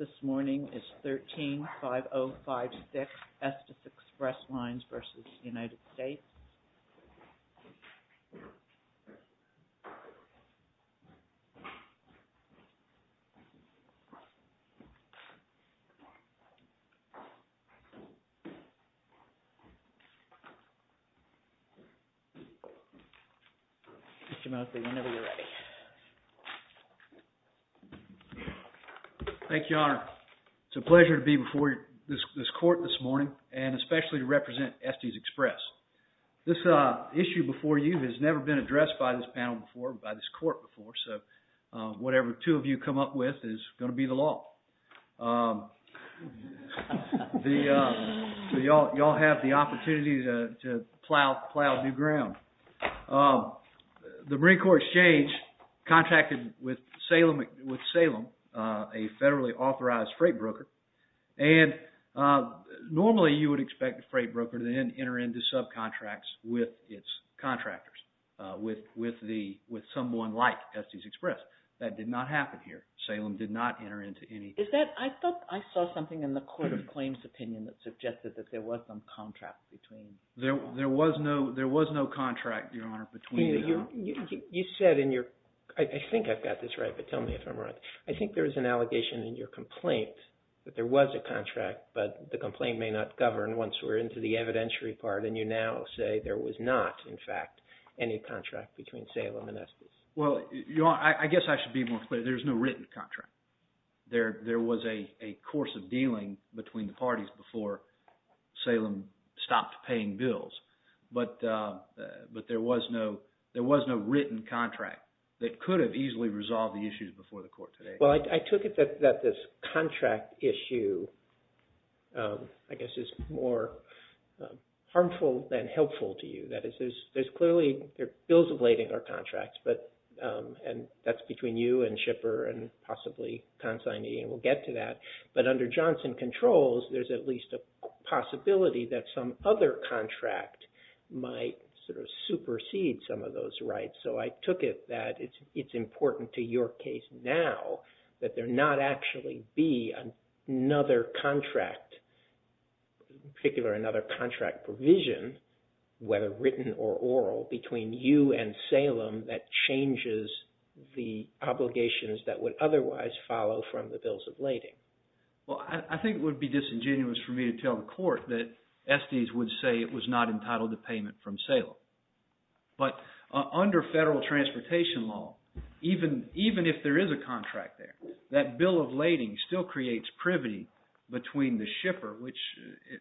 Mr. Mosley, whenever you're ready. Thank you, Your Honor. It's a pleasure to be before this court this morning, and especially to represent Estes Express. This issue before you has never been addressed by this panel before, by this court before, so whatever two of you come up with is going to be the law. So you all have the opportunity to plow new ground. The Marine Corps Exchange contracted with Salem, a federally authorized freight broker, and normally you would expect a freight broker to then enter into subcontracts with its contractors, with someone like Estes Express. That did not happen here. Salem did not enter into any. I thought I saw something in the Court of Claims opinion that suggested that there was some contract between them. There was no contract, Your Honor, between them. You said in your – I think I've got this right, but tell me if I'm wrong. I think there was an allegation in your complaint that there was a contract, but the complaint may not govern once we're into the evidentiary part, and you now say there was not, in fact, any contract between Salem and Estes. Well, Your Honor, I guess I should be more clear. There was no written contract. There was a course of dealing between the parties before Salem stopped paying bills, but there was no written contract that could have easily resolved the issues before the court today. Well, I took it that this contract issue, I guess, is more harmful than helpful to you. That is, there's clearly bills ablating our contracts, and that's between you and Shipper and possibly Consignee, and we'll get to that. But under Johnson Controls, there's at least a possibility that some other contract might sort of supersede some of those rights. So I took it that it's important to your case now that there not actually be another contract, in particular, another contract provision, whether written or oral, between you and Salem that changes the obligations that would otherwise follow from the bills ablating. Well, I think it would be disingenuous for me to tell the court that Estes would say it was not entitled to payment from Salem. But under federal transportation law, even if there is a contract there, that bill ablating still creates privity between the shipper, which,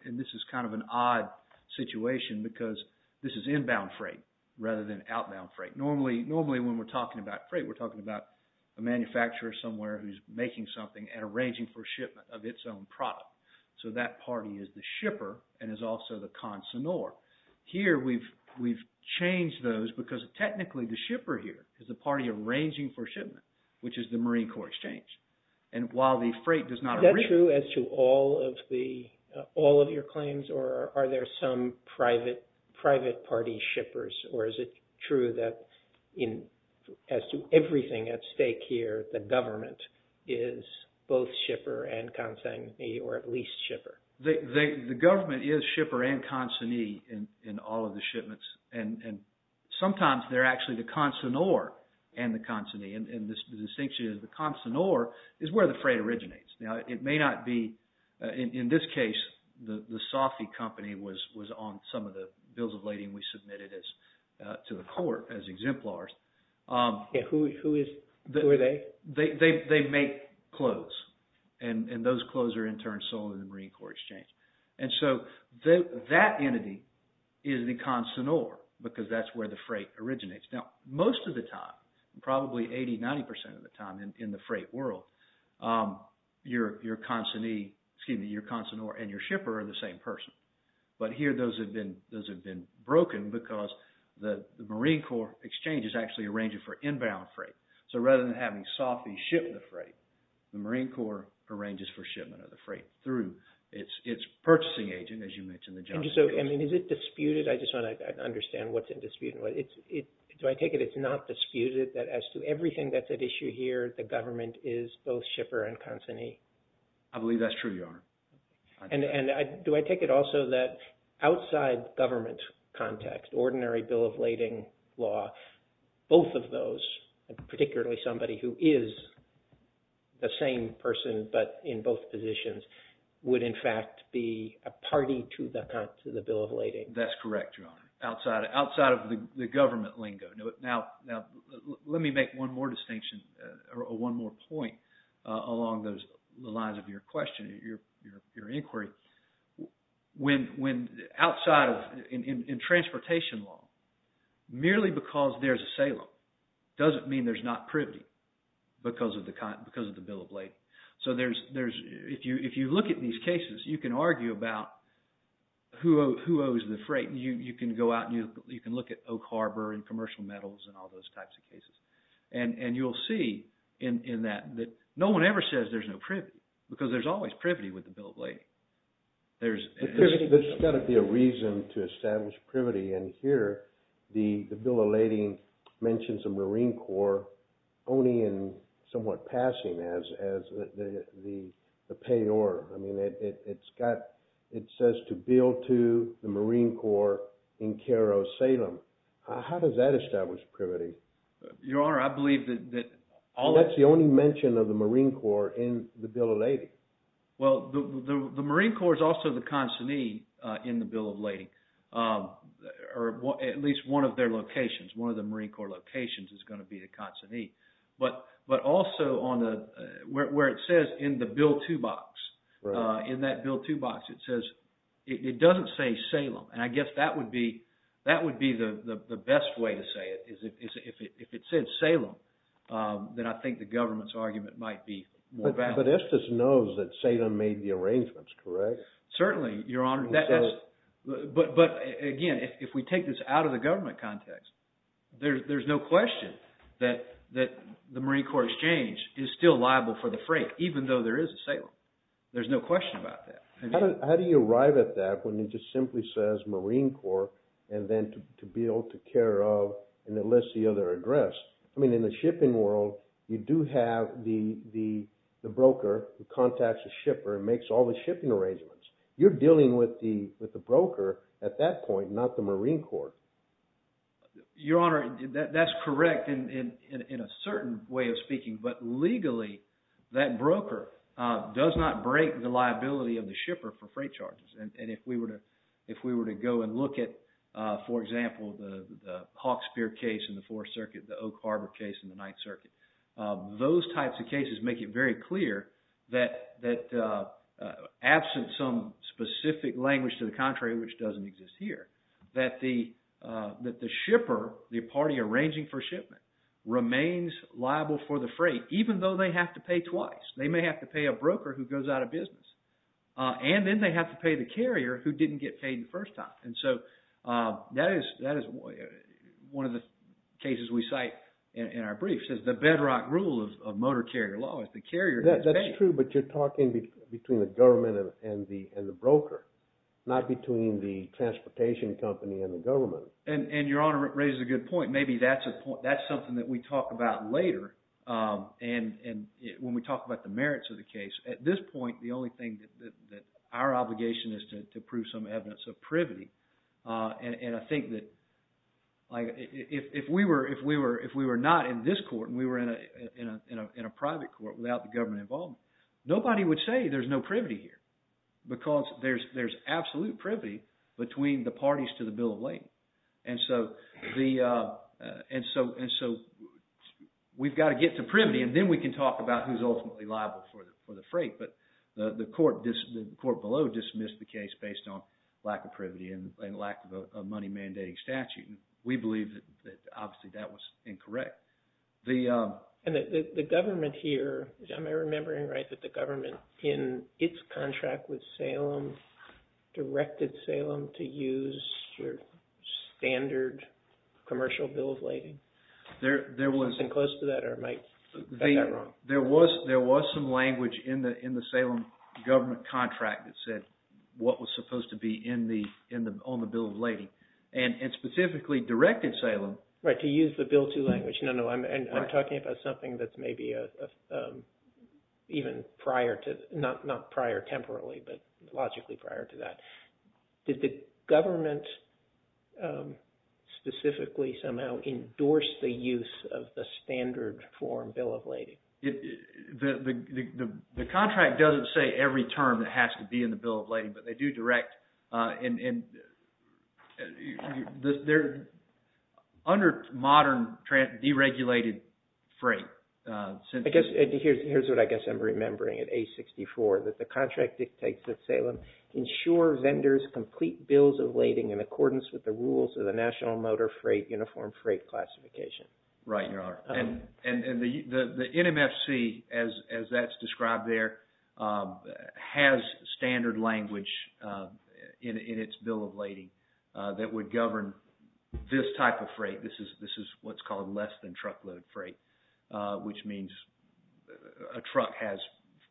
and this is kind of an odd situation, because this is inbound freight rather than outbound freight. Normally, when we're talking about freight, we're talking about a manufacturer somewhere who's making something and arranging for shipment of its own product. So that party is the shipper and is also the consignor. Here, we've changed those because technically the shipper here is the party arranging for shipment, which is the Marine Corps Exchange. And while the freight does not... Is that true as to all of your claims, or are there some private party shippers, or is it true that as to everything at stake here, the government is both shipper and consignee, or at least shipper? The government is shipper and consignee in all of the shipments, and sometimes they're actually the consignor and the consignee. And the distinction is the consignor is where the freight originates. Now, it may not be... In this case, the Safi Company was on some of the bills of lading we submitted to the court as exemplars. Who is... Who are they? They make clothes, and those clothes are in turn sold in the Marine Corps Exchange. And so that entity is the consignor because that's where the freight originates. Now, most of the time, probably 80%, 90% of the time in the freight world, your consignee, excuse me, your consignor and your shipper are the same person. But here, those have been broken because the Marine Corps Exchange is actually arranging for inbound freight. So rather than having Safi ship the freight, the Marine Corps arranges for shipment of the freight through its purchasing agent, as you mentioned, the Johnson & Johnson. I mean, is it disputed? I just want to understand what's in dispute. Do I take it it's not disputed that as to everything that's at issue here, the government is both shipper and consignee? I believe that's true, Your Honor. And do I take it also that outside government context, ordinary bill of lading law, both of those, particularly somebody who is the same person but in both positions, would in fact be a party to the bill of lading? That's correct, Your Honor, outside of the government lingo. Now, let me make one more distinction or one more point along the lines of your question, your inquiry. When outside of, in transportation law, merely because there's a Salem doesn't mean there's not privity because of the bill of lading. So if you look at these cases, you can argue about who owes the freight. You can go out and you can look at Oak Harbor and commercial metals and all those types of cases. And you'll see in that that no one ever says there's no privity because there's always privity with the bill of lading. There's got to be a reason to establish privity. And here the bill of lading mentions a Marine Corps only in somewhat passing as the payor. I mean, it's got it says to bill to the Marine Corps in Cairo, Salem. How does that establish privity? Your Honor, I believe that all that's the only mention of the Marine Corps in the bill of lading. Well, the Marine Corps is also the consignee in the bill of lading or at least one of their locations. One of the Marine Corps locations is going to be a consignee. But but also on the where it says in the bill to box in that bill to box, it says it doesn't say Salem. And I guess that would be that would be the best way to say it is if it says Salem, then I think the government's argument might be more valid. But Estes knows that Salem made the arrangements, correct? Certainly, Your Honor. But again, if we take this out of the government context, there's no question that the Marine Corps exchange is still liable for the freight, even though there is a Salem. There's no question about that. How do you arrive at that when it just simply says Marine Corps and then to be able to care of and enlist the other address? I mean, in the shipping world, you do have the the the broker who contacts the shipper and makes all the shipping arrangements. You're dealing with the with the broker at that point, not the Marine Corps. Your Honor, that's correct. And in a certain way of speaking, but legally, that broker does not break the liability of the shipper for freight charges. And if we were to if we were to go and look at, for example, the Hawkspeare case in the Fourth Circuit, the Oak Harbor case in the Ninth Circuit, those types of cases make it very clear that that absent some specific language to the contrary, which doesn't exist here, that the that the shipper, the party arranging for shipment remains liable for the freight, even though they have to pay twice. They may have to pay a broker who goes out of business and then they have to pay the carrier who didn't get paid the first time. And so that is that is one of the cases we cite in our briefs is the bedrock rule of motor carrier law is the carrier. That's true. But you're talking between the government and the and the broker, not between the transportation company and the government. And your honor raises a good point. Maybe that's a point. That's something that we talk about later. And when we talk about the merits of the case at this point, the only thing that our obligation is to prove some evidence of privity. And I think that if we were if we were if we were not in this court and we were in a in a in a private court without the government involvement, nobody would say there's no privity here because there's there's absolute privity between the parties to the bill of lading. And so the and so and so we've got to get to privity and then we can talk about who's ultimately liable for the freight. But the court, the court below dismissed the case based on lack of privity and lack of a money mandating statute. And we believe that obviously that was incorrect. And the government here, am I remembering right, that the government in its contract with Salem directed Salem to use your standard commercial bill of lading? There was. Something close to that or am I wrong? There was there was some language in the in the Salem government contract that said what was supposed to be in the in the on the bill of lading. And specifically directed Salem. Right. To use the bill to language. No, no. And I'm talking about something that's maybe even prior to not not prior temporarily, but logically prior to that. Did the government specifically somehow endorse the use of the standard form bill of lading? The contract doesn't say every term that has to be in the bill of lading, but they do direct and they're under modern deregulated freight. I guess here's what I guess I'm remembering at age 64 that the contract dictates that Salem ensure vendors complete bills of lading in accordance with the rules of the National Motor Freight Uniform Freight Classification. Right. And the NMFC, as as that's described there, has standard language in its bill of lading that would govern this type of freight. This is this is what's called less than truckload freight, which means a truck has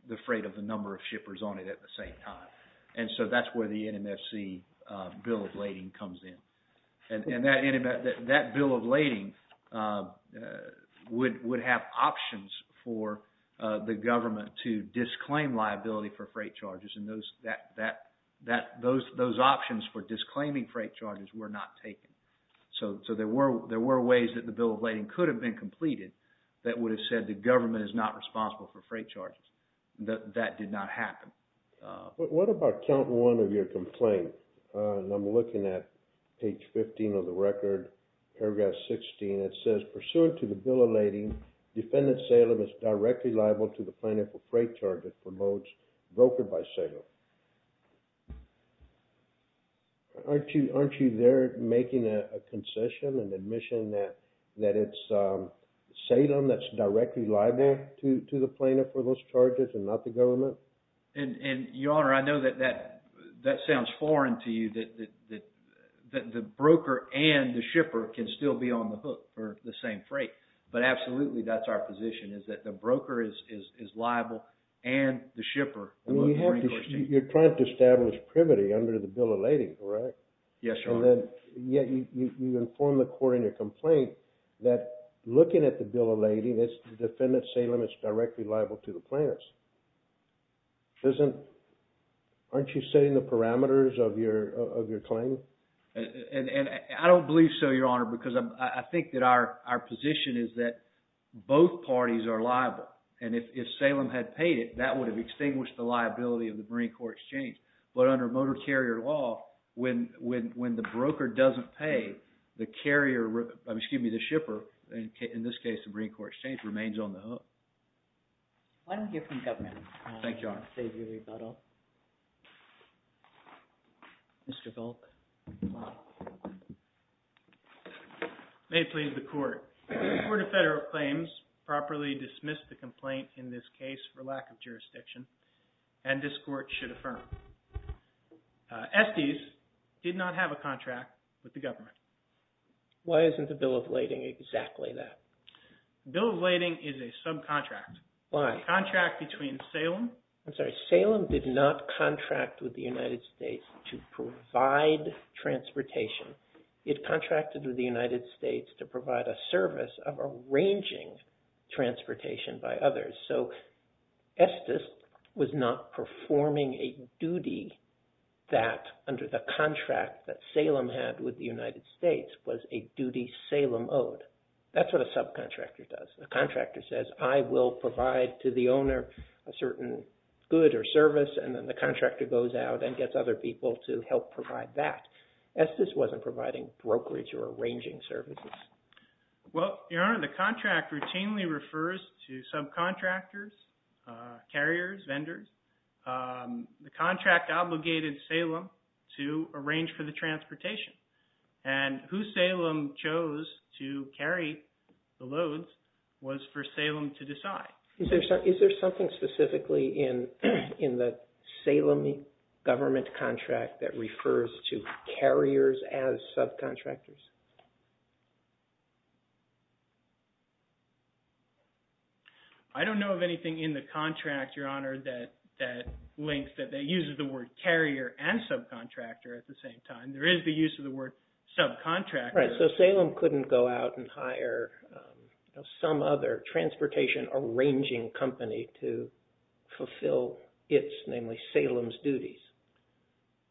the freight of the number of shippers on it at the same time. And so that's where the NMFC bill of lading comes in. And that that bill of lading would would have options for the government to disclaim liability for freight charges. And those that that that those those options for disclaiming freight charges were not taken. So so there were there were ways that the bill of lading could have been completed that would have said the government is not responsible for freight charges. That that did not happen. What about count one of your complaint? And I'm looking at page 15 of the record, paragraph 16. It says pursuant to the bill of lading, defendant Salem is directly liable to the plaintiff for freight charges for loads brokered by Salem. Aren't you aren't you there making a concession and admission that that it's Salem that's directly liable to the plaintiff for those charges and not the government? And your honor, I know that that that sounds foreign to you, that the broker and the shipper can still be on the hook for the same freight. But absolutely, that's our position is that the broker is liable and the shipper. You're trying to establish privity under the bill of lading, correct? Yes, your honor. Yet you inform the court in your complaint that looking at the bill of lading, defendant Salem is directly liable to the plaintiffs. Isn't aren't you setting the parameters of your of your claim? And I don't believe so, your honor, because I think that our our position is that both parties are liable. And if Salem had paid it, that would have extinguished the liability of the Marine Corps Exchange. But under motor carrier law, when when when the broker doesn't pay the carrier, excuse me, the shipper, in this case, the Marine Corps Exchange remains on the hook. Why don't we hear from the government? Thank you, your honor. Mr. Volk. May it please the court. The court of federal claims properly dismissed the complaint in this case for lack of jurisdiction. And this court should affirm. Estes did not have a contract with the government. Why isn't the bill of lading exactly that? Bill of lading is a subcontract. Why? Contract between Salem. I'm sorry. Salem did not contract with the United States to provide transportation. It contracted with the United States to provide a service of arranging transportation by others. So Estes was not performing a duty that under the contract that Salem had with the United States was a duty Salem owed. That's what a subcontractor does. A contractor says, I will provide to the owner a certain good or service. And then the contractor goes out and gets other people to help provide that. Estes wasn't providing brokerage or arranging services. Well, your honor, the contract routinely refers to subcontractors, carriers, vendors. The contract obligated Salem to arrange for the transportation. And who Salem chose to carry the loads was for Salem to decide. Is there something specifically in the Salem government contract that refers to carriers as subcontractors? I don't know of anything in the contract, your honor, that links, that uses the word carrier and subcontractor at the same time. There is the use of the word subcontractor. Right, so Salem couldn't go out and hire some other transportation arranging company to fulfill its, namely, Salem's duties.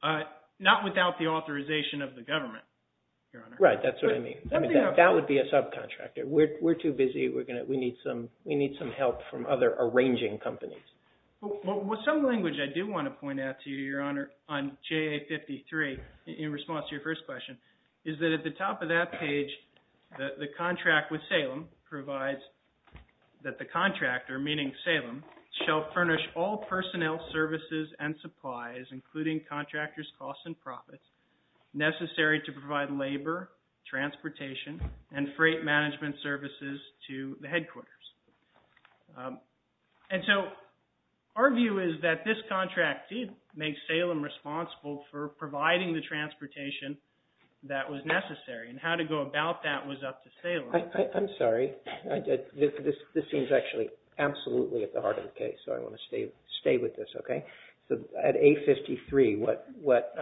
Not without the authorization of the government, your honor. Right, that's what I mean. That would be a subcontractor. We're too busy. We need some help from other arranging companies. Well, some language I do want to point out to you, your honor, on JA-53 in response to your first question, is that at the top of that page, the contract with Salem provides that the contractor, meaning Salem, shall furnish all personnel services and supplies, including contractors' costs and profits, necessary to provide labor, transportation, and freight management services to the headquarters. And so our view is that this contract did make Salem responsible for providing the transportation that was necessary, and how to go about that was up to Salem. I'm sorry. This seems actually absolutely at the heart of the case, so I want to stay with this, okay? So at A-53, what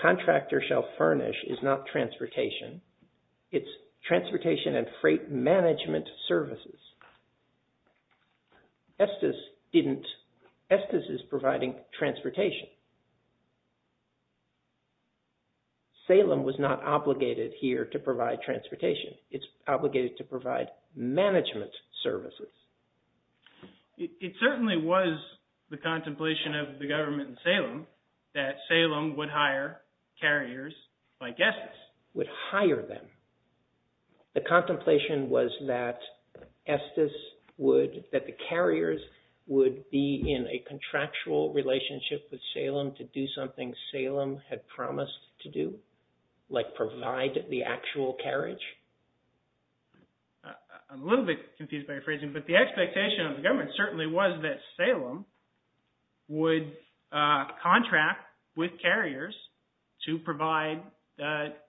contractor shall furnish is not transportation. It's transportation and freight management services. Estes is providing transportation. Salem was not obligated here to provide transportation. It's obligated to provide management services. It certainly was the contemplation of the government in Salem that Salem would hire carriers like Estes. Would hire them. The contemplation was that Estes would, that the carriers would be in a contractual relationship with Salem to do something Salem had promised to do, like provide the actual carriage? I'm a little bit confused by your phrasing, but the expectation of the government certainly was that Salem would contract with carriers to provide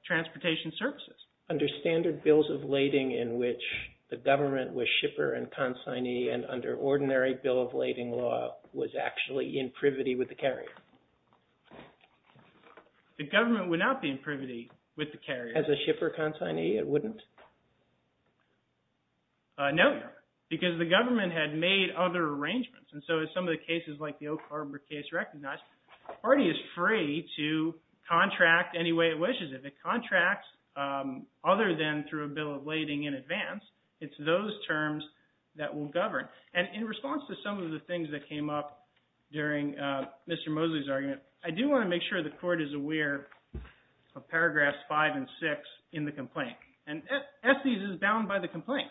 transportation services. Under standard bills of lading in which the government was shipper and consignee and under ordinary bill of lading law was actually in privity with the carrier? The government would not be in privity with the carrier. As a shipper consignee, it wouldn't? No, because the government had made other arrangements. And so in some of the cases like the Oak Harbor case recognized, the party is free to contract any way it wishes. If it contracts other than through a bill of lading in advance, it's those terms that will govern. And in response to some of the things that came up during Mr. Mosley's argument, I do want to make sure the court is aware of paragraphs 5 and 6 in the complaint. And Estes is bound by the complaint.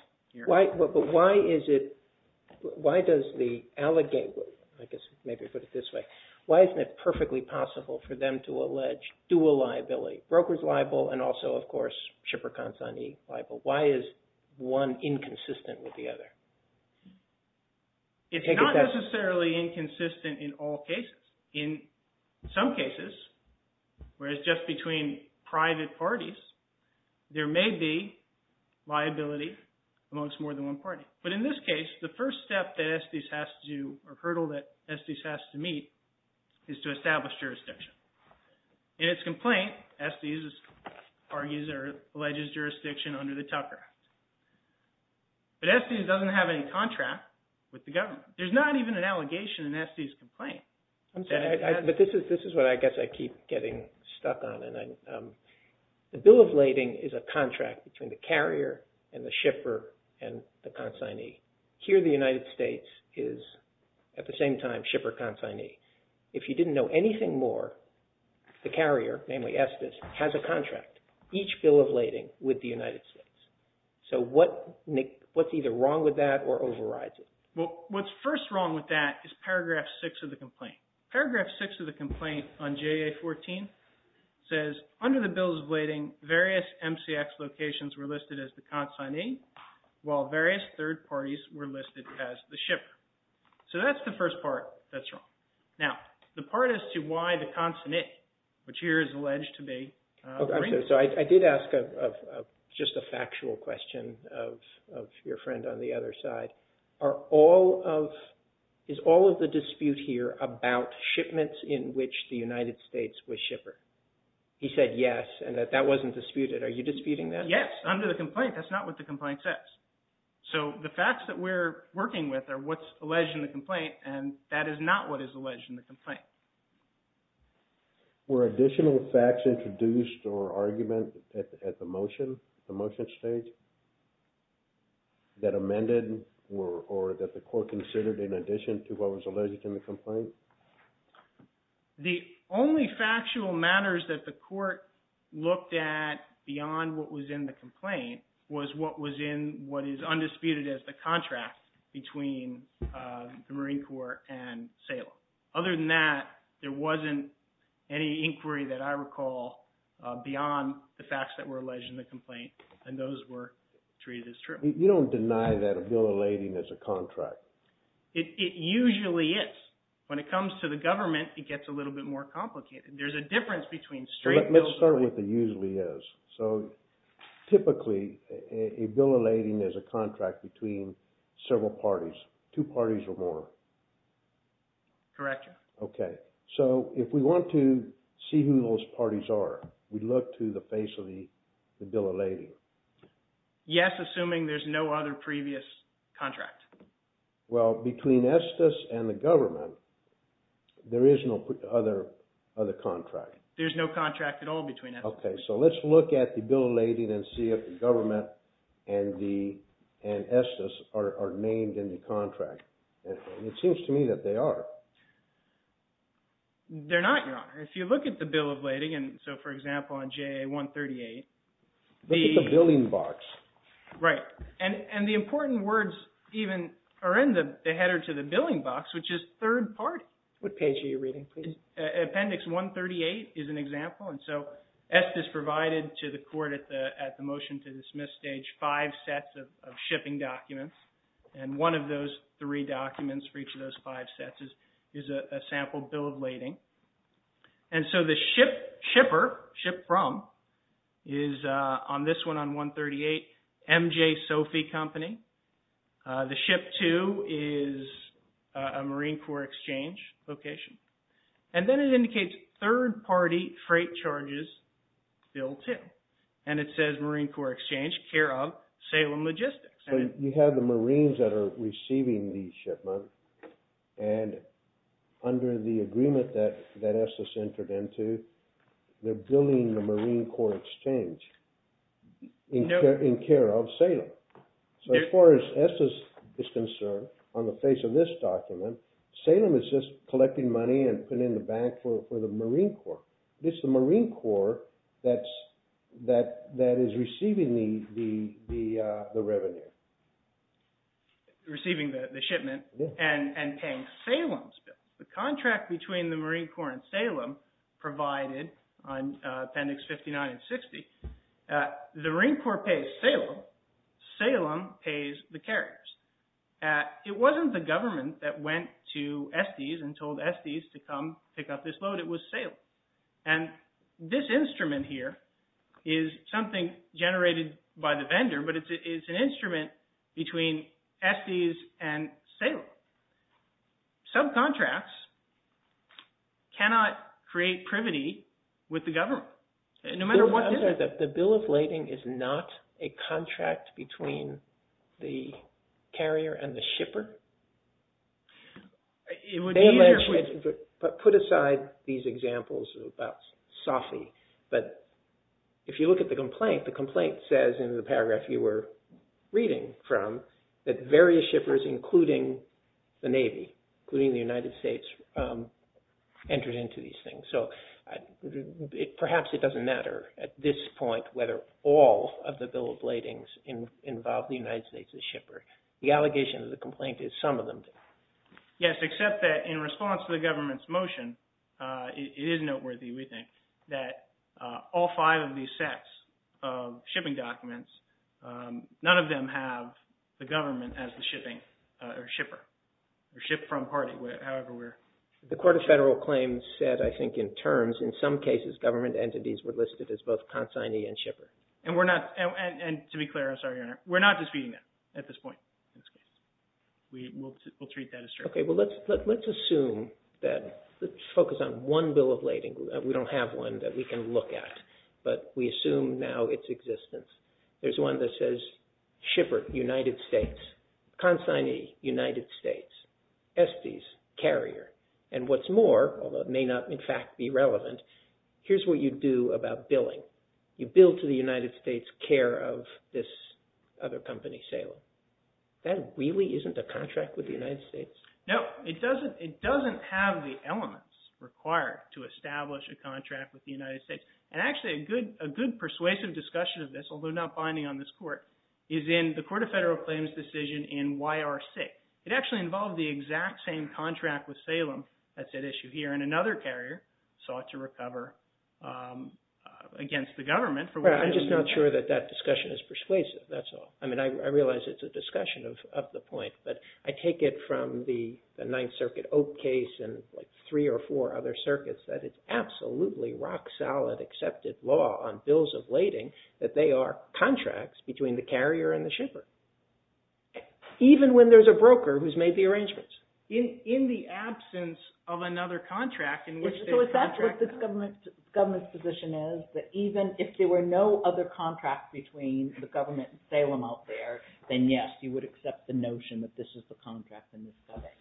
But why is it – why does the – I guess maybe put it this way. Why isn't it perfectly possible for them to allege dual liability? Brokers liable and also, of course, shipper consignee liable. Why is one inconsistent with the other? It's not necessarily inconsistent in all cases. In some cases, whereas just between private parties, there may be liability amongst more than one party. But in this case, the first step that Estes has to – or hurdle that Estes has to meet is to establish jurisdiction. In its complaint, Estes argues or alleges jurisdiction under the Tucker Act. But Estes doesn't have any contract with the government. There's not even an allegation in Estes' complaint. But this is what I guess I keep getting stuck on. The bill of lading is a contract between the carrier and the shipper and the consignee. Here the United States is at the same time shipper consignee. If you didn't know anything more, the carrier, namely Estes, has a contract. Each bill of lading with the United States. So what's either wrong with that or overrides it? Well, what's first wrong with that is paragraph 6 of the complaint. Paragraph 6 of the complaint on JA 14 says, under the bills of lading, various MCX locations were listed as the consignee, while various third parties were listed as the shipper. So that's the first part that's wrong. Now, the part as to why the consignee, which here is alleged to be – So I did ask just a factual question of your friend on the other side. Are all of – is all of the dispute here about shipments in which the United States was shipper? He said yes, and that that wasn't disputed. Are you disputing that? Yes. Under the complaint, that's not what the complaint says. So the facts that we're working with are what's alleged in the complaint, and that is not what is alleged in the complaint. Were additional facts introduced or argument at the motion, the motion stage, that amended or that the court considered in addition to what was alleged in the complaint? The only factual matters that the court looked at beyond what was in the complaint was what was in what is undisputed as the contract between the Marine Corps and Salem. So other than that, there wasn't any inquiry that I recall beyond the facts that were alleged in the complaint, and those were treated as true. You don't deny that a bill of lading is a contract? It usually is. When it comes to the government, it gets a little bit more complicated. There's a difference between straight bills – Let's start with the usually is. Typically, a bill of lading is a contract between several parties, two parties or more. Correct. Okay. So if we want to see who those parties are, we look to the face of the bill of lading. Yes, assuming there's no other previous contract. Well, between Estes and the government, there is no other contract. Okay. So let's look at the bill of lading and see if the government and Estes are named in the contract. It seems to me that they are. They're not, Your Honor. If you look at the bill of lading, and so for example on JA-138, the – Look at the billing box. Right. And the important words even are in the header to the billing box, which is third party. What page are you reading, please? Appendix 138 is an example. And so Estes provided to the court at the motion to dismiss stage five sets of shipping documents. And one of those three documents for each of those five sets is a sample bill of lading. And so the shipper, ship from, is on this one on 138, MJ Sophie Company. The ship two is a Marine Corps Exchange location. And then it indicates third party freight charges, bill two. And it says Marine Corps Exchange, care of Salem Logistics. You have the Marines that are receiving the shipment and under the agreement that Estes entered into, they're billing the Marine Corps Exchange in care of Salem. So as far as Estes is concerned, on the face of this document, Salem is just collecting money and putting it in the bank for the Marine Corps. It's the Marine Corps that is receiving the revenue. Receiving the shipment and paying Salem's bill. The contract between the Marine Corps and Salem provided on appendix 59 and 60, the Marine Corps pays Salem, Salem pays the carriers. It wasn't the government that went to Estes and told Estes to come pick up this load. It was Salem. And this instrument here is something generated by the vendor, but it's an instrument between Estes and Salem. Subcontracts cannot create privity with the government. The bill of lading is not a contract between the carrier and the shipper. Put aside these examples about SOFI, but if you look at the complaint, the complaint says in the paragraph you were reading from that various shippers, including the Navy, including the United States, entered into these things. So perhaps it doesn't matter at this point whether all of the bill of ladings involve the United States as shipper. The allegation of the complaint is some of them do. Yes, except that in response to the government's motion, it is noteworthy, we think, that all five of these sets of shipping documents, none of them have the government as the shipping or shipper or ship from party, however we're. The Court of Federal Claims said, I think, in terms, in some cases government entities were listed as both consignee and shipper. And we're not, and to be clear, I'm sorry, Your Honor, we're not disputing that at this point. We will treat that as true. Okay, well let's assume that, let's focus on one bill of lading. We don't have one that we can look at, but we assume now its existence. There's one that says shipper, United States. Consignee, United States. Estes, carrier. And what's more, although it may not in fact be relevant, here's what you do about billing. You bill to the United States care of this other company, Salem. That really isn't a contract with the United States? No, it doesn't have the elements required to establish a contract with the United States. And actually a good persuasive discussion of this, although not binding on this court, is in the Court of Federal Claims decision in YRC. It actually involved the exact same contract with Salem, that's at issue here, and another carrier sought to recover against the government. I'm just not sure that that discussion is persuasive, that's all. I mean, I realize it's a discussion of the point, but I take it from the Ninth Circuit Oak case and three or four other circuits that it's absolutely rock-solid accepted law on bills of lading that they are contracts between the carrier and the shipper, even when there's a broker who's made the arrangements. In the absence of another contract in which they contract that. So is that what this government's position is? That even if there were no other contracts between the government and Salem out there, then yes, you would accept the notion that this is the contract in this setting.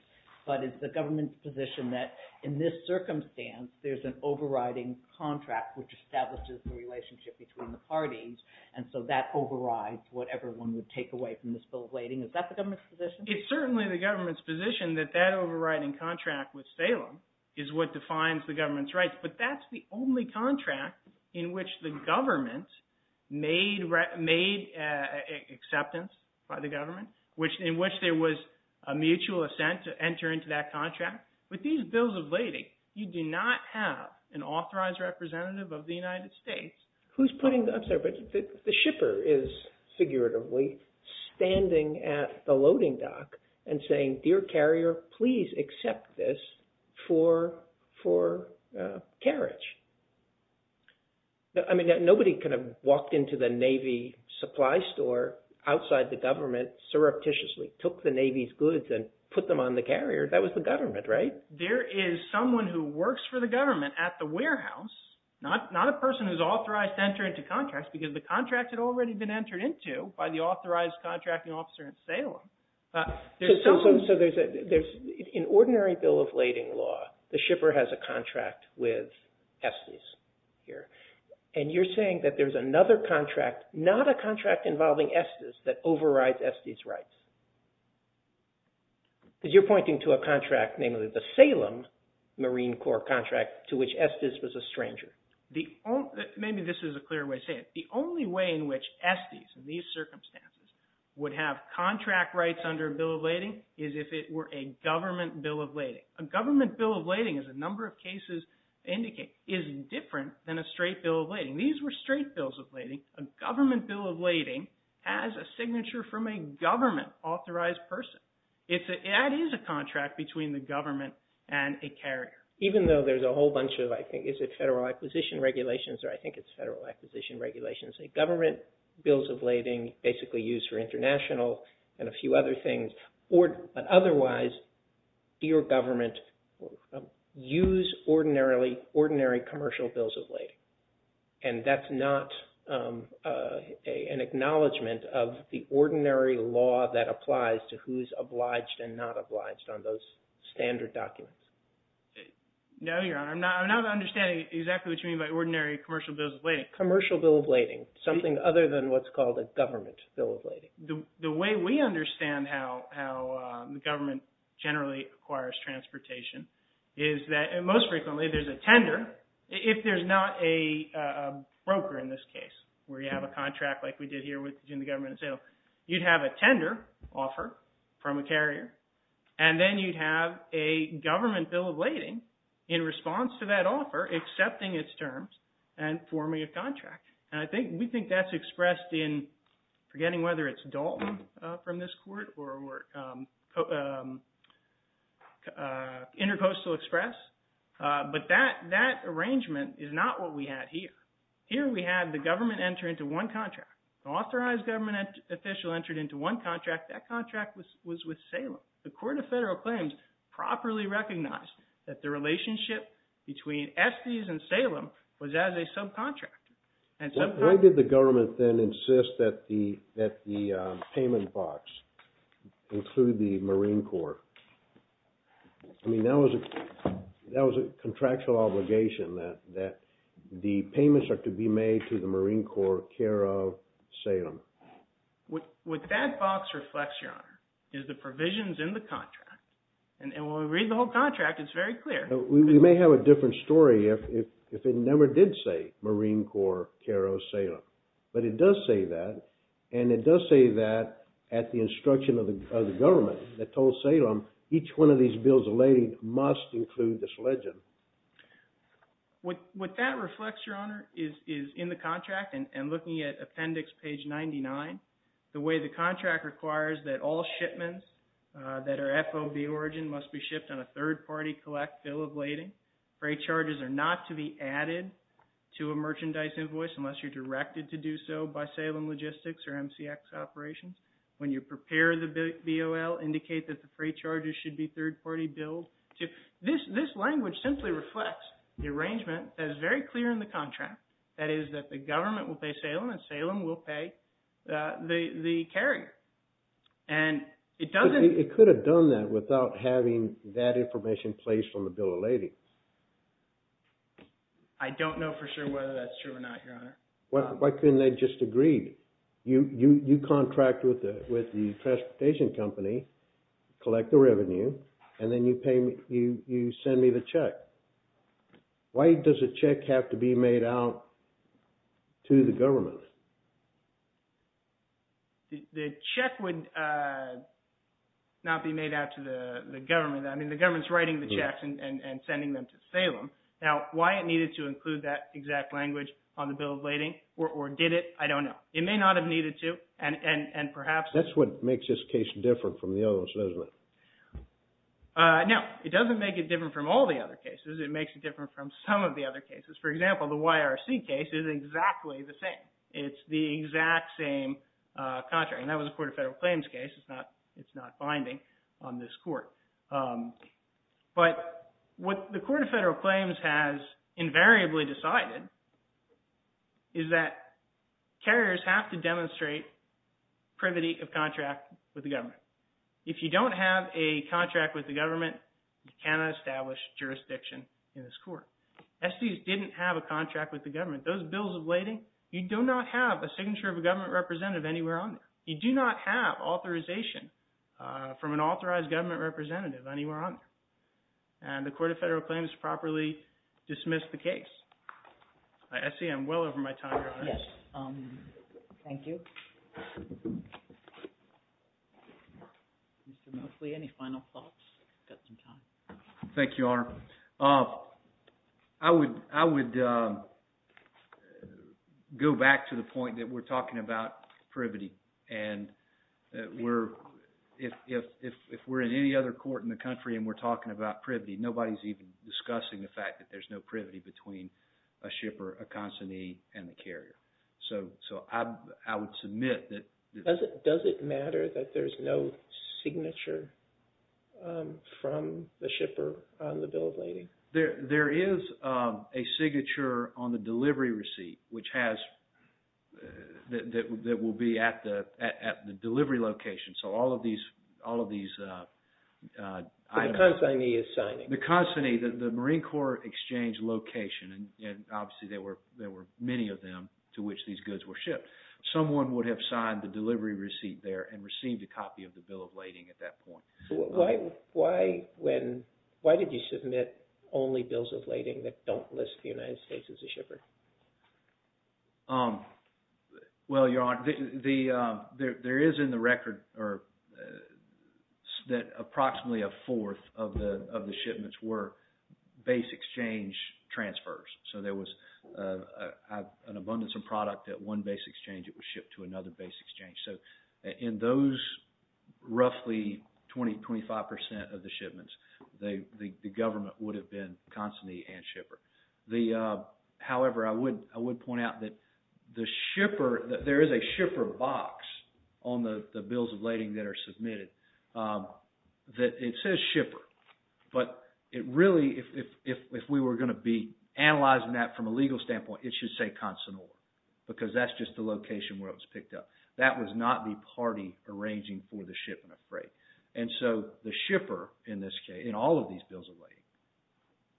But is the government's position that in this circumstance, there's an overriding contract which establishes the relationship between the parties, and so that overrides whatever one would take away from this bill of lading? Is that the government's position? It's certainly the government's position that that overriding contract with Salem is what defines the government's rights, but that's the only contract in which the government made acceptance by the government, in which there was a mutual assent to enter into that contract. With these bills of lading, you do not have an authorized representative of the United States. Who's putting – I'm sorry, but the shipper is figuratively standing at the loading dock and saying, dear carrier, please accept this for carriage. I mean, nobody kind of walked into the Navy supply store outside the government surreptitiously, took the Navy's goods, and put them on the carrier. That was the government, right? There is someone who works for the government at the warehouse, not a person who's authorized to enter into contracts because the contract had already been entered into by the authorized contracting officer in Salem. So there's an ordinary bill of lading law. The shipper has a contract with Estes here, and you're saying that there's another contract, not a contract involving Estes, that overrides Estes' rights? Because you're pointing to a contract, namely the Salem Marine Corps contract, to which Estes was a stranger. Maybe this is a clearer way to say it. The only way in which Estes, in these circumstances, would have contract rights under a bill of lading is if it were a government bill of lading. A government bill of lading, as a number of cases indicate, is different than a straight bill of lading. These were straight bills of lading. A government bill of lading has a signature from a government-authorized person. That is a contract between the government and a carrier. Even though there's a whole bunch of, I think, is it federal acquisition regulations, or I think it's federal acquisition regulations, a government bill of lading basically used for international and a few other things. But otherwise, your government use ordinary commercial bills of lading, and that's not an acknowledgment of the ordinary law that applies to who's obliged and not obliged on those standard documents. No, Your Honor. I'm not understanding exactly what you mean by ordinary commercial bills of lading. Commercial bill of lading, something other than what's called a government bill of lading. The way we understand how the government generally acquires transportation is that most frequently there's a tender. If there's not a broker in this case, where you have a contract like we did here between the government and sales, you'd have a tender offer from a carrier, and then you'd have a government bill of lading in response to that offer accepting its terms and forming a contract. And we think that's expressed in, forgetting whether it's DOL from this court or Interpostal Express, but that arrangement is not what we had here. Here we had the government enter into one contract. The authorized government official entered into one contract. That contract was with Salem. The Court of Federal Claims properly recognized that the relationship between Estes and Salem was as a subcontract. Why did the government then insist that the payment box include the Marine Corps? I mean, that was a contractual obligation that the payments are to be made to the Marine Corps care of Salem. What that box reflects, Your Honor, is the provisions in the contract. And when we read the whole contract, it's very clear. We may have a different story if it never did say Marine Corps care of Salem. But it does say that, and it does say that at the instruction of the government that told Salem each one of these bills of lading must include this legend. And looking at appendix page 99, the way the contract requires that all shipments that are FOB origin must be shipped on a third-party collect bill of lading. Freight charges are not to be added to a merchandise invoice unless you're directed to do so by Salem Logistics or MCX operations. When you prepare the BOL, indicate that the freight charges should be third-party bills. This language simply reflects the arrangement that is very clear in the contract, that is that the government will pay Salem and Salem will pay the carrier. And it doesn't... It could have done that without having that information placed on the bill of lading. I don't know for sure whether that's true or not, Your Honor. Why couldn't they just agree? You contract with the transportation company, collect the revenue, and then you send me the check. Why does a check have to be made out to the government? The check would not be made out to the government. I mean, the government's writing the checks and sending them to Salem. Now, why it needed to include that exact language on the bill of lading or did it, I don't know. It may not have needed to, and perhaps... That's what makes this case different from the others, isn't it? No, it doesn't make it different from all the other cases. It makes it different from some of the other cases. For example, the YRC case is exactly the same. It's the exact same contract, and that was a Court of Federal Claims case. It's not binding on this court. But what the Court of Federal Claims has invariably decided is that carriers have to demonstrate privity of contract with the government. If you don't have a contract with the government, you cannot establish jurisdiction in this court. SEs didn't have a contract with the government. Those bills of lading, you do not have a signature of a government representative anywhere on there. You do not have authorization from an authorized government representative anywhere on there. And the Court of Federal Claims properly dismissed the case. SE, I'm well over my time. Yes, thank you. Mr. Mosley, any final thoughts? Thank you, Your Honor. I would go back to the point that we're talking about privity. And if we're in any other court in the country and we're talking about privity, nobody's even discussing the fact that there's no privity between a shipper, a consignee, and the carrier. So I would submit that— Does it matter that there's no signature from the shipper on the bill of lading? There is a signature on the delivery receipt that will be at the delivery location. So all of these— The consignee is signing. The consignee, the Marine Corps Exchange location, and obviously there were many of them to which these goods were shipped. But someone would have signed the delivery receipt there and received a copy of the bill of lading at that point. Why did you submit only bills of lading that don't list the United States as a shipper? Well, Your Honor, there is in the record that approximately a fourth of the shipments were base exchange transfers. So there was an abundance of product at one base exchange. It was shipped to another base exchange. So in those roughly 20-25% of the shipments, the government would have been consignee and shipper. However, I would point out that the shipper— There is a shipper box on the bills of lading that are submitted that it says shipper. But it really, if we were going to be analyzing that from a legal standpoint, it should say consignee. Because that's just the location where it was picked up. That was not the party arranging for the shipment of freight. And so the shipper, in this case, in all of these bills of lading,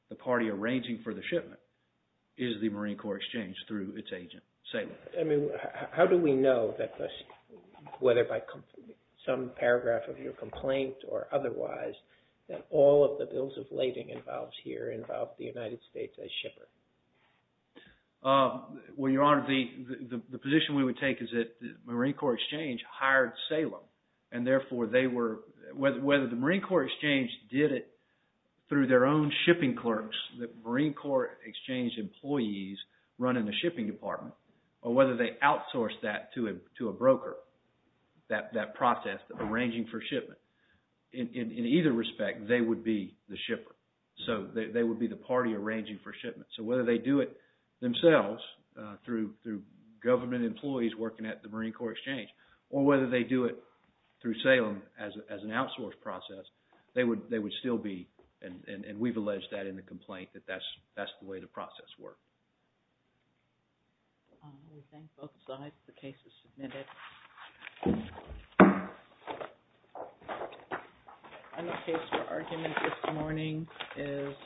the party arranging for the shipment is the Marine Corps Exchange through its agent. I mean, how do we know that whether by some paragraph of your complaint or otherwise, that all of the bills of lading involved here involve the United States as shipper? Well, Your Honor, the position we would take is that the Marine Corps Exchange hired Salem. And therefore, they were—whether the Marine Corps Exchange did it through their own shipping clerks, the Marine Corps Exchange employees running the shipping department, or whether they outsourced that to a broker, that process of arranging for shipment, in either respect, they would be the shipper. So they would be the party arranging for shipment. So whether they do it themselves through government employees working at the Marine Corps Exchange, or whether they do it through Salem as an outsource process, they would still be—and we've alleged that in the complaint—that that's the way the process worked.